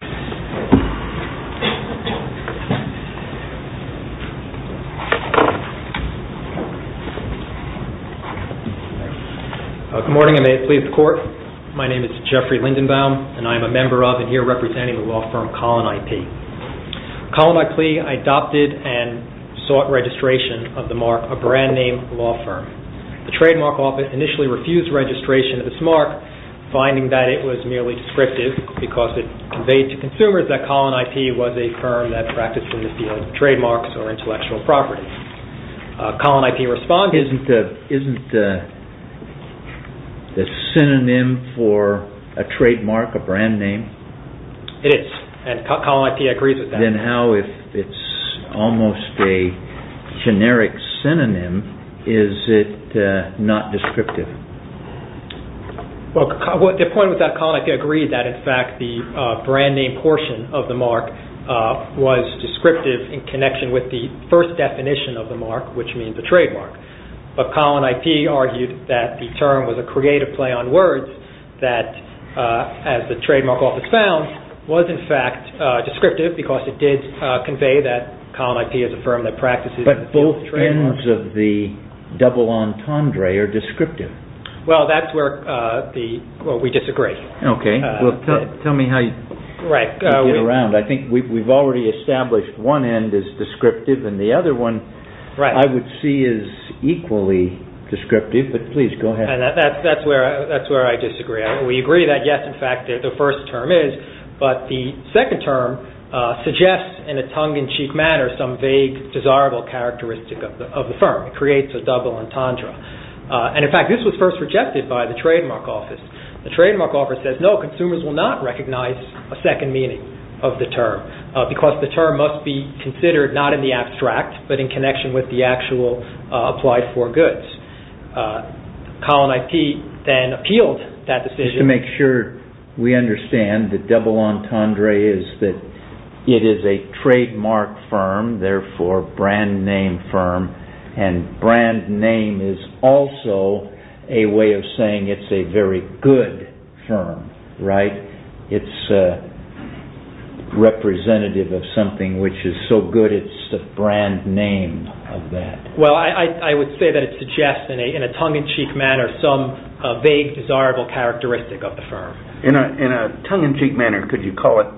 Good morning and may it please the court. My name is Jeffrey Lindenbaum and I am a member of and here representing the law firm Collen IP. Collen IP adopted and sought registration of the mark, a brand name law firm. The trademark office initially refused registration of this to consumers that Collen IP was a firm that practiced in the field of trademarks or intellectual properties. Collen IP responded… CHIEF JUSTICE ROBERTS Isn't the synonym for a trademark a brand name? MR. LINDENBAUM It is and Collen IP agrees with that. CHIEF JUSTICE ROBERTS Then how, if it's almost a generic synonym, is it not descriptive? MR. LINDENBAUM The point was that Collen IP agreed that in fact the brand name portion of the mark was descriptive in connection with the first definition of the mark, which means the trademark. But Collen IP argued that the term was a creative play on words that, as the trademark office found, was in fact descriptive because it did convey that Collen IP is a firm that practices in the field of trademarks. CHIEF JUSTICE ROBERTS So the ends of the double entendre are descriptive? MR. LINDENBAUM Well, that's where we disagree. CHIEF JUSTICE ROBERTS Okay. Tell me how you get around. I think we've already established one end is descriptive and the other one I would see is equally descriptive, but please go ahead. MR. LINDENBAUM That's where I disagree. We agree that yes, in fact, the first term is, but the second term suggests in a tongue-in-cheek manner some vague, desirable characteristic of the firm. It creates a double entendre. In fact, this was first rejected by the trademark office. The trademark office says, no, consumers will not recognize a second meaning of the term because the term must be considered not in the abstract but in connection with the actual applied for goods. Collen IP then appealed that decision. CHIEF JUSTICE ROBERTS Just to make sure we understand the double entendre is that it is a trademark firm, therefore brand name firm, and brand name is also a way of saying it's a very good firm, right? It's representative of something which is so good it's the brand name of that. MR. LINDENBAUM Well, I would say that it suggests in a tongue-in-cheek manner. In a tongue-in-cheek manner, could you call it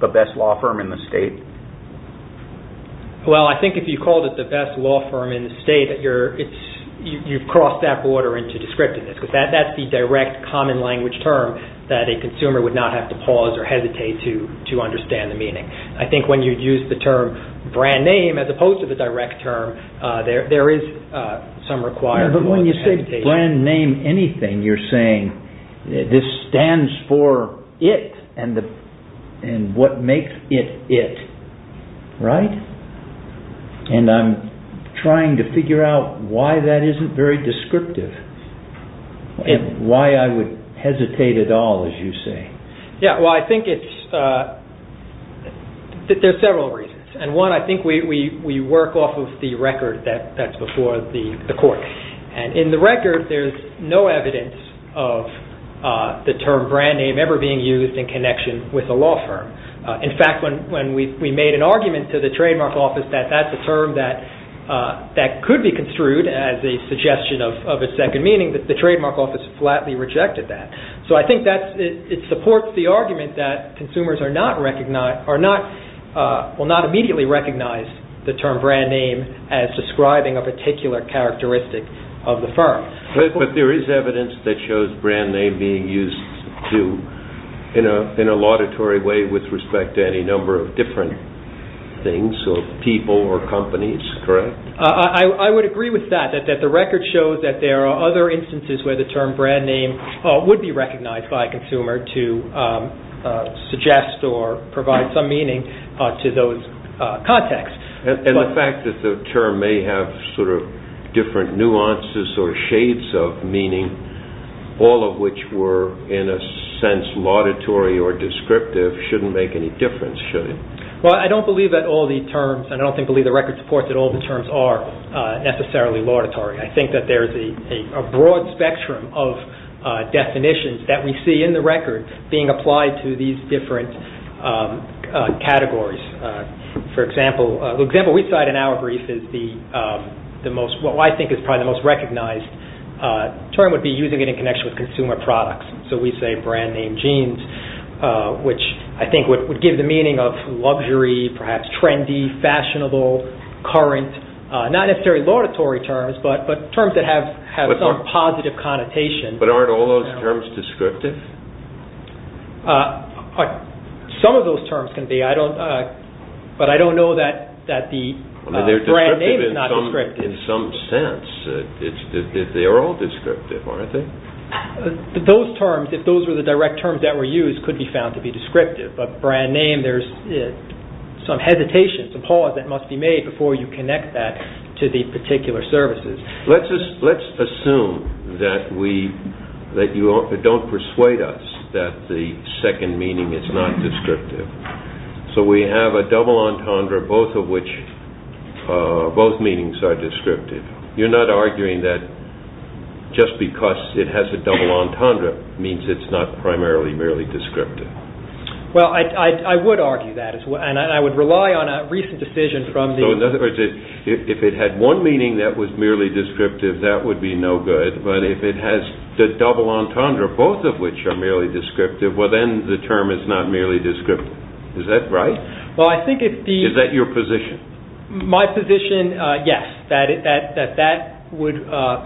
the best law firm in the state? CHIEF JUSTICE ROBERTS Well, I think if you called it the best law firm in the state, you've crossed that border into descriptiveness because that's the direct common language term that a consumer would not have to pause or hesitate to understand the meaning. I think when you use the term brand name as opposed to the direct term, there is some requirement. MR. LINDENBAUM But when you say brand name anything, you're saying this stands for it and what makes it it, right? And I'm trying to figure out why that isn't very descriptive and why I would hesitate at all, as you say. CHIEF JUSTICE ROBERTS Yeah, well, I think there are several reasons. And one, I think we work off of the record that's before the court. And in the record, there's no evidence of the term brand name ever being used in connection with a law firm. In fact, when we made an argument to the trademark office that that's a term that could be construed as a suggestion of a second meaning, that the trademark office flatly rejected that. So, I think it supports the argument that consumers will not immediately recognize the term brand name as describing a particular characteristic of the firm. MR. LINDENBAUM But there is evidence that shows brand name being used in a laudatory way with respect to any number of different things of people or companies, correct? CHIEF JUSTICE ROBERTS I would agree with that, that the record shows that there are other instances where the term brand name would be recognized by a consumer to suggest or provide some meaning to those contexts. MR. LINDENBAUM And the fact that the term may have sort of different nuances or shades of meaning, all of which were, in a sense, laudatory or descriptive, shouldn't make any difference, should it? CHIEF JUSTICE ROBERTS Well, I don't believe that all the terms are necessarily laudatory. I think that there is a broad spectrum of definitions that we see in the record being applied to these different categories. For example, the example we cite in our brief is what I think is probably the most recognized term would be using it in connection with consumer products. So we say brand name jeans, which I think would give the meaning of luxury, perhaps trendy, fashionable, current, not necessarily laudatory terms, but terms that have some positive connotation. MR. LINDENBAUM But aren't all those terms descriptive? CHIEF JUSTICE ROBERTS Some of those terms can be, but I don't know that the brand name is not descriptive. MR. LINDENBAUM They're descriptive in some sense. They are all descriptive, aren't they? CHIEF JUSTICE ROBERTS Those terms, if those were the direct terms that were used, could be found to be descriptive. But brand name, there's some hesitation, some pause that must be made before you connect that to the particular services. MR. LINDENBAUM Let's assume that you don't persuade us that the second meaning is not descriptive. So we have a double entendre, both of which, both meanings are descriptive. You're not arguing that just because it has a double entendre means it's not primarily merely descriptive? CHIEF JUSTICE ROBERTS Well, I would argue that, and I would rely MR. LINDENBAUM So in other words, if it had one meaning that was merely descriptive, that would be no good. But if it has the double entendre, both of which are merely descriptive, well, then the term is not merely descriptive. Is that right? Is that your position? MR. LINDENBAUM My position, yes, that that would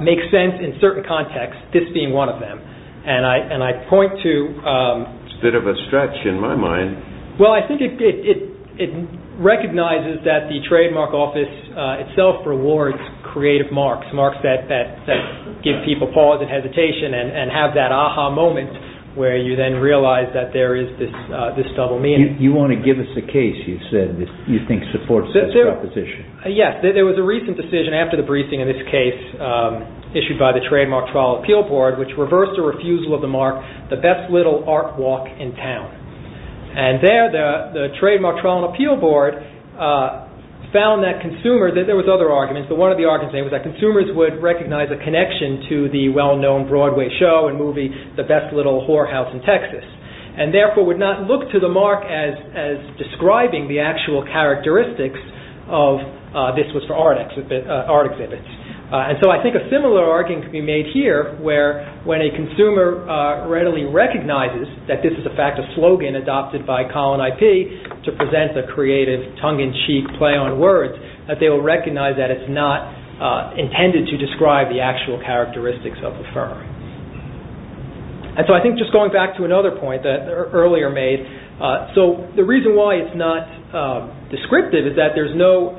make sense in certain contexts, this being one of them. And I point to CHIEF JUSTICE ROBERTS It's a bit of a stretch in my mind. MR. LINDENBAUM Well, I think it recognizes that the trademark office itself rewards creative marks, marks that give people pause and hesitation and have that aha moment where you then realize that there is this double meaning. CHIEF JUSTICE ROBERTS You want to give us a case, you said, that you think supports this proposition. MR. LINDENBAUM Yes. There was a recent decision after the briefing in this case issued by the Trademark Trial Appeal Board, which reversed a refusal of the mark, the best little art walk in town. And there, the Trademark Trial and Appeal Board found that consumers, there was other arguments, but one of the arguments was that consumers would recognize a connection to the well-known Broadway show and movie, The Best Little Whorehouse in Texas, and therefore would not look to the mark as describing the actual characteristics of this was for art exhibits. And so I think a similar argument can be made here where when a consumer readily recognizes that this is a fact of slogan adopted by Colin I.P. to present a creative tongue-in-cheek play on words, that they will recognize that it's not intended to describe the actual characteristics of the firm. And so I think just going back to another point that earlier made, so the reason why it's not descriptive is that there's no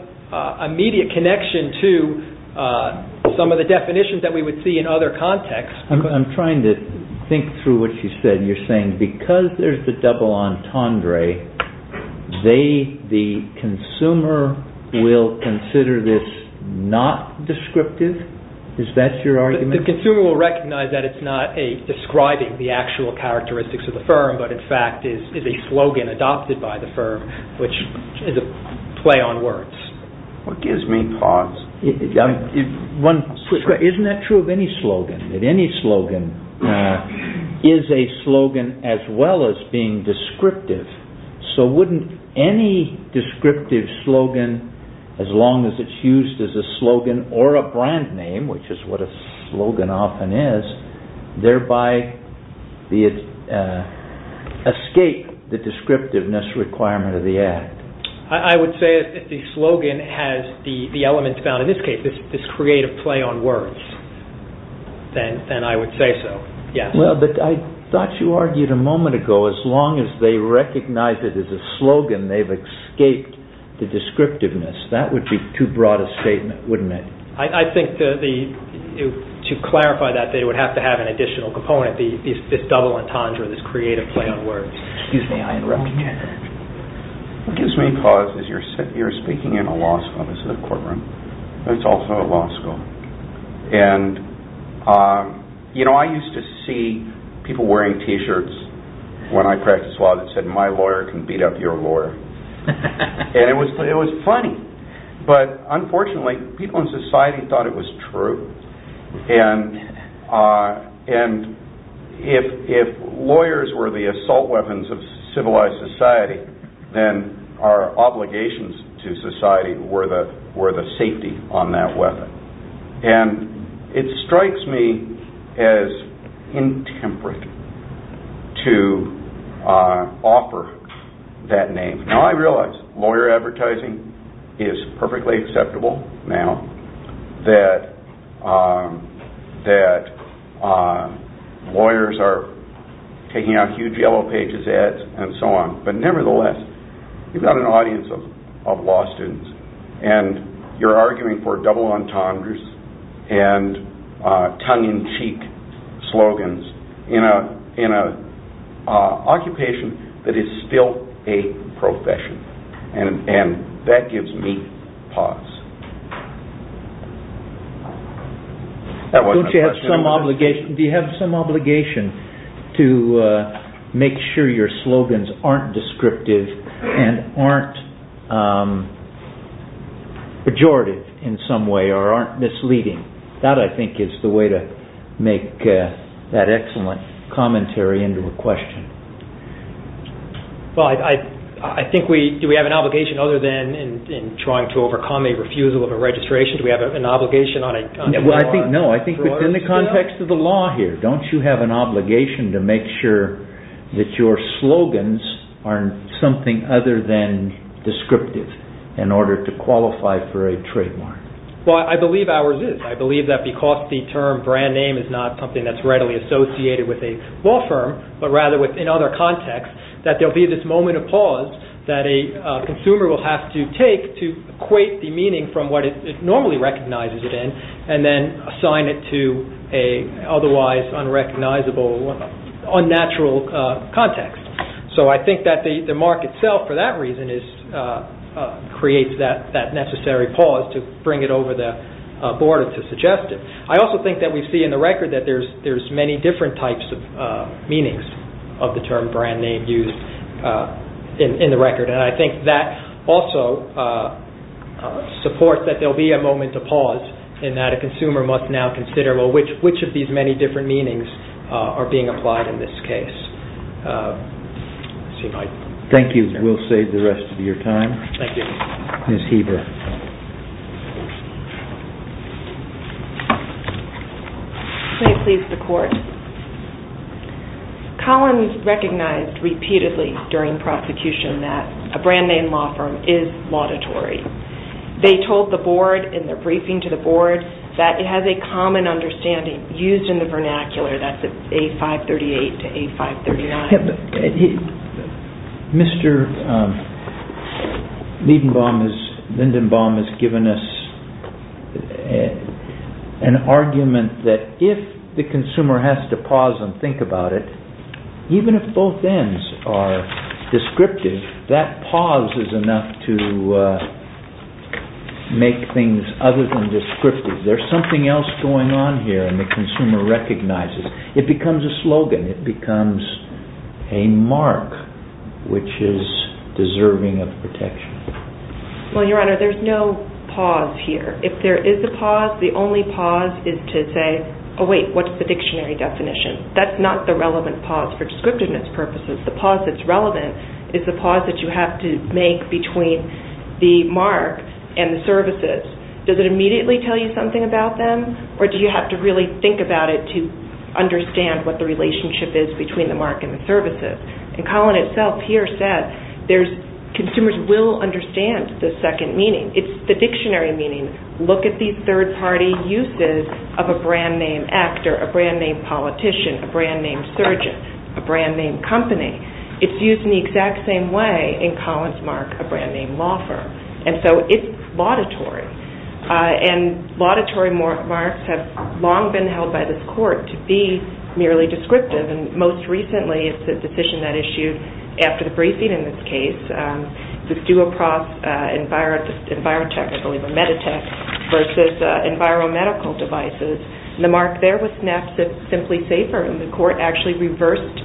immediate connection to some of the definitions that we would see in other contexts. I'm trying to think through what you said. You're saying because there's the double entendre, they, the consumer, will consider this not descriptive? Is that your argument? The consumer will recognize that it's not describing the actual characteristics of the firm, but in fact is a slogan adopted by the firm, which is a play on words. What gives me pause? Isn't that true of any slogan? That any slogan is a slogan as well as being descriptive. So wouldn't any descriptive slogan, as long as it's used as a slogan or a brand name, which is what a slogan often is, thereby escape the descriptiveness requirement of the act? I would say if the slogan has the elements found in this case, this creative play on words, then I would say so, yes. Well, but I thought you argued a moment ago, as long as they recognize it as a slogan, they've escaped the descriptiveness. That would be too broad a statement, wouldn't it? I think to clarify that, they would have to have an additional component, this double entendre, this creative play on words. Excuse me, I interrupted you. What gives me pause is you're speaking in a law school. This is a courtroom. It's also a law school. And, you know, I used to see people wearing t-shirts when I practiced law that said, my lawyer can beat up your lawyer. And it was funny. But, unfortunately, people in society thought it was true. And if lawyers were the assault weapons of civilized society, then our obligations to society were the safety on that weapon. And it strikes me as intemperate to offer that name. Now, I realize lawyer advertising is perfectly acceptable now that lawyers are taking out huge yellow pages, ads, and so on. But, nevertheless, you've got an audience of law students. And you're arguing for double entendres and tongue-in-cheek slogans in an occupation that is still a profession. And that gives me pause. Don't you have some obligation to make sure your slogans aren't descriptive and aren't pejorative in some way or aren't misleading? That, I think, is the way to make that excellent commentary into a question. Well, I think, do we have an obligation other than in trying to overcome a refusal of a registration? Do we have an obligation on a network? No, I think within the context of the law here, don't you have an obligation to make sure that your slogans aren't something other than descriptive in order to qualify for a trademark? Well, I believe ours is. I believe that because the term brand name is not something that's readily associated with a law firm, but rather within other contexts, that there'll be this moment of pause that a consumer will have to take to equate the meaning from what it normally recognizes it and then assign it to an otherwise unrecognizable, unnatural context. So I think that the mark itself, for that reason, creates that necessary pause to bring it over the border to suggest it. I also think that we see in the record that there's many different types of meanings of the term brand name used in the record. And I think that also supports that there'll be a moment of pause and that a consumer must now consider, well, which of these many different meanings are being applied in this case? Thank you. We'll save the rest of your time. Thank you. Ms. Heber. May it please the Court. Collins recognized repeatedly during prosecution that a brand name law firm is laudatory. They told the board in their briefing to the board that it has a common understanding used in the vernacular, that's A-538 to A-539. Mr. Lindenbaum has given us an argument that if the consumer has to pause and think about it, even if both ends are descriptive, that pause is enough to make things other than descriptive. There's something else going on here and the consumer recognizes. It becomes a slogan. It becomes a mark which is deserving of protection. Well, Your Honor, there's no pause here. If there is a pause, the only pause is to say, oh wait, what's the dictionary definition? That's not the relevant pause for descriptiveness purposes. The pause that's relevant is the pause that you have to make between the mark and the services. Does it immediately tell you something about them or do you have to really think about it to understand what the relationship is between the mark and the services? Collin himself here said consumers will understand the second meaning. It's the dictionary meaning. Look at these third party uses of a brand name actor, a brand name politician, a brand name surgeon, a brand name company. It's used in the exact same way in Collin's mark, a brand name law firm. It's laudatory. Laudatory marks have long been held by this court to be merely descriptive. Most recently, it's a decision that issued after the briefing in this case, the Duoprof EnviroTech versus EnviroMedical Devices. The mark there was SNAP Simply Safer and the court actually reversed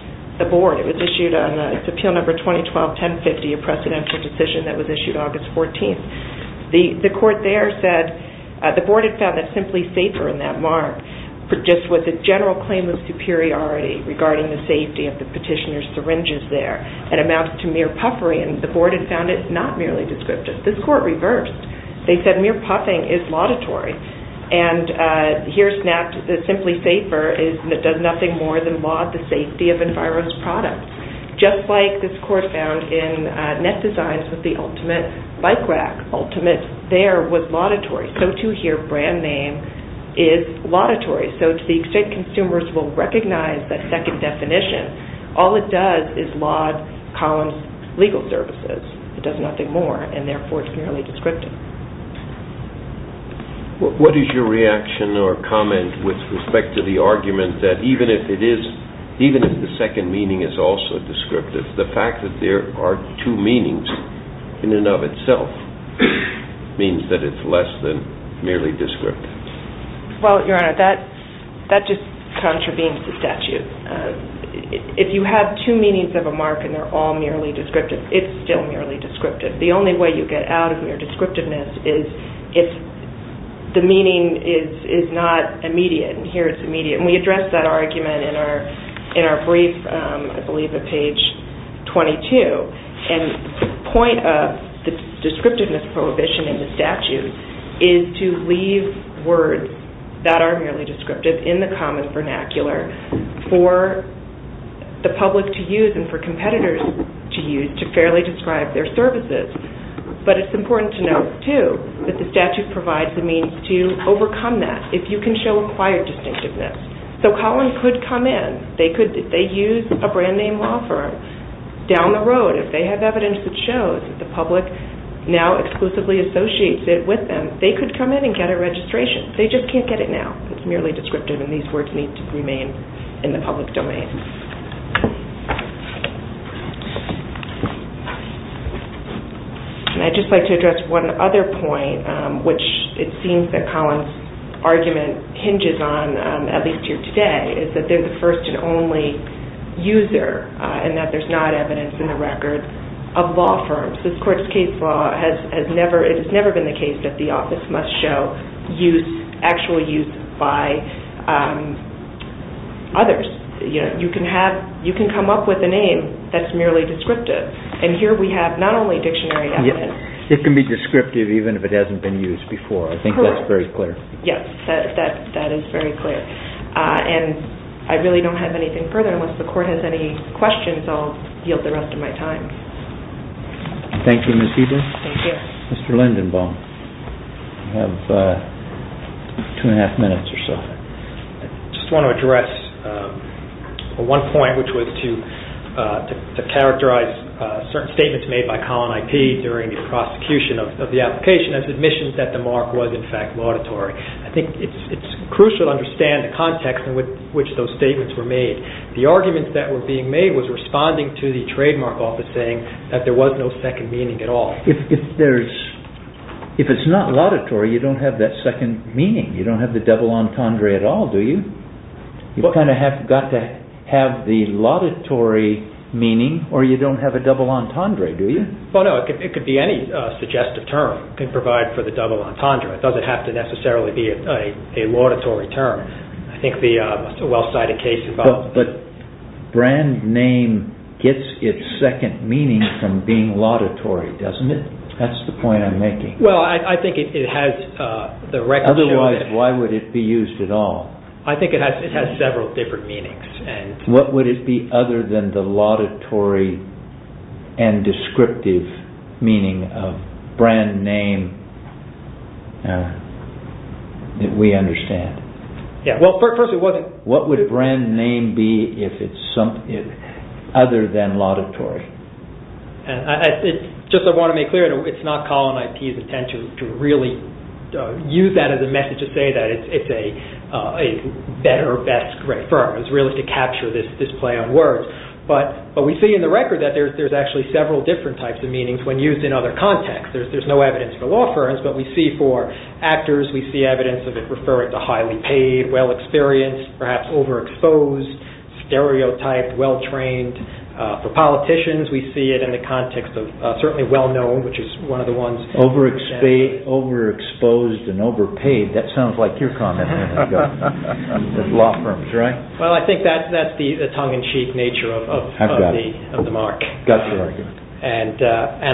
the board. It was issued on Appeal Number 2012-1050, a precedential decision that was issued August 14th. The court there said the board had found that Simply Safer in that mark produced with a general claim of superiority regarding the safety of the petitioner's syringes there and amounts to mere puffery and the board had found it not merely descriptive. This court reversed. They said mere puffing is laudatory and here SNAP Simply Safer does nothing more than laud the safety of Enviro's products. Just like this court found in Net Designs with the ultimate bike rack, ultimate there was laudatory. So too here brand name is laudatory. So to the extent consumers will recognize that second definition, all it does is laud Collin's legal services. It does nothing more and therefore it's merely descriptive. What is your reaction or comment with respect to the argument that even if the second meaning is also descriptive, the fact that there are two meanings in and of itself means that it's less than merely descriptive. Well, Your Honor, that just contravenes the statute. If you have two meanings of a mark and they're all merely descriptive, it's still merely descriptive. The only way you get out of mere descriptiveness is if the meaning is not immediate and here it's immediate. And we address that argument in our brief, I believe at page 22. And the point of the descriptiveness prohibition in the statute is to leave words that are merely descriptive in the common vernacular for the public to use and for competitors to use to fairly describe their services. But it's important to note too that the statute provides the means to overcome that. If you can show acquired distinctiveness. So Collin could come in. If they use a brand name law firm down the road, if they have evidence that shows that the public now exclusively associates it with them, they could come in and get a registration. They just can't get it now. It's merely descriptive and these words need to remain in the public domain. And I'd just like to address one other point, which it seems that Collin's argument hinges on, at least here today, is that they're the first and only user and that there's not evidence in the record of law firms. This court's case law has never, it has never been the case that the office must show use, actual use by others. You can come up with a name that's merely descriptive. And here we have not only dictionary evidence. It can be descriptive even if it hasn't been used before. I think that's very clear. Yes, that is very clear. And I really don't have anything further. Unless the court has any questions, I'll yield the rest of my time. Thank you, Ms. Eden. Thank you. Mr. Lindenbaum, you have two and a half minutes or so. I just want to address one point, which was to characterize certain statements made by Collin I.P. during the prosecution of the application as admissions that the mark was in fact laudatory. I think it's crucial to understand the context in which those statements were made. The arguments that were being made was responding to the trademark office saying that there was no second meaning at all. If there's, if it's not laudatory, you don't have that second meaning. You don't have the double entendre at all, do you? You kind of have got to have the laudatory meaning or you don't have a double entendre, do you? Well, no, it could be any suggestive term can provide for the double entendre. It doesn't have to necessarily be a laudatory term. I think the well-cited case involved. But brand name gets its second meaning from being laudatory, doesn't it? That's the point I'm making. Well, I think it has the record. Otherwise, why would it be used at all? I think it has several different meanings. What would it be other than the laudatory and descriptive meaning of brand name that we understand? Yeah. Well, first of all. What would brand name be if it's other than laudatory? Just I want to make clear, it's not Colin IT's intent to really use that as a message to say that it's a better, best, great firm. It's really to capture this play on words. But we see in the record that there's actually several different types of meanings when used in other contexts. There's no evidence for law firms, but we see for actors, we see evidence of it referring to highly paid, well-experienced, perhaps overexposed, stereotyped, well-trained. For politicians, we see it in the context of certainly well-known, which is one of the ones. Overexposed and overpaid. That sounds like your comment a minute ago. Law firms, right? Well, I think that's the tongue-in-cheek nature of the mark. Gotcha. And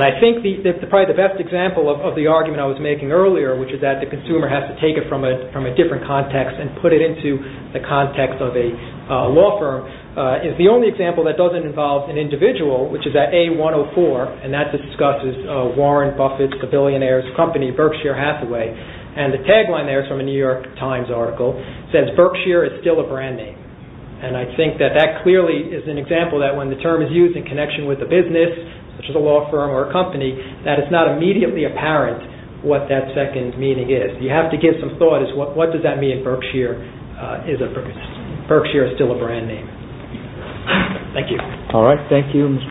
I think probably the best example of the argument I was making earlier, which is that the consumer has to take it from a different context and put it into the context of a law firm, is the only example that doesn't involve an individual, which is at A104, and that discusses Warren Buffett, the billionaire's company, Berkshire Hathaway. And the tagline there is from a New York Times article. It says, Berkshire is still a brand name. And I think that that clearly is an example that when the term is used in connection with a business, such as a law firm or a company, that it's not immediately apparent what that second meaning is. You have to give some thought as to what does that mean, Berkshire is still a brand name. Thank you. All right. Thank you.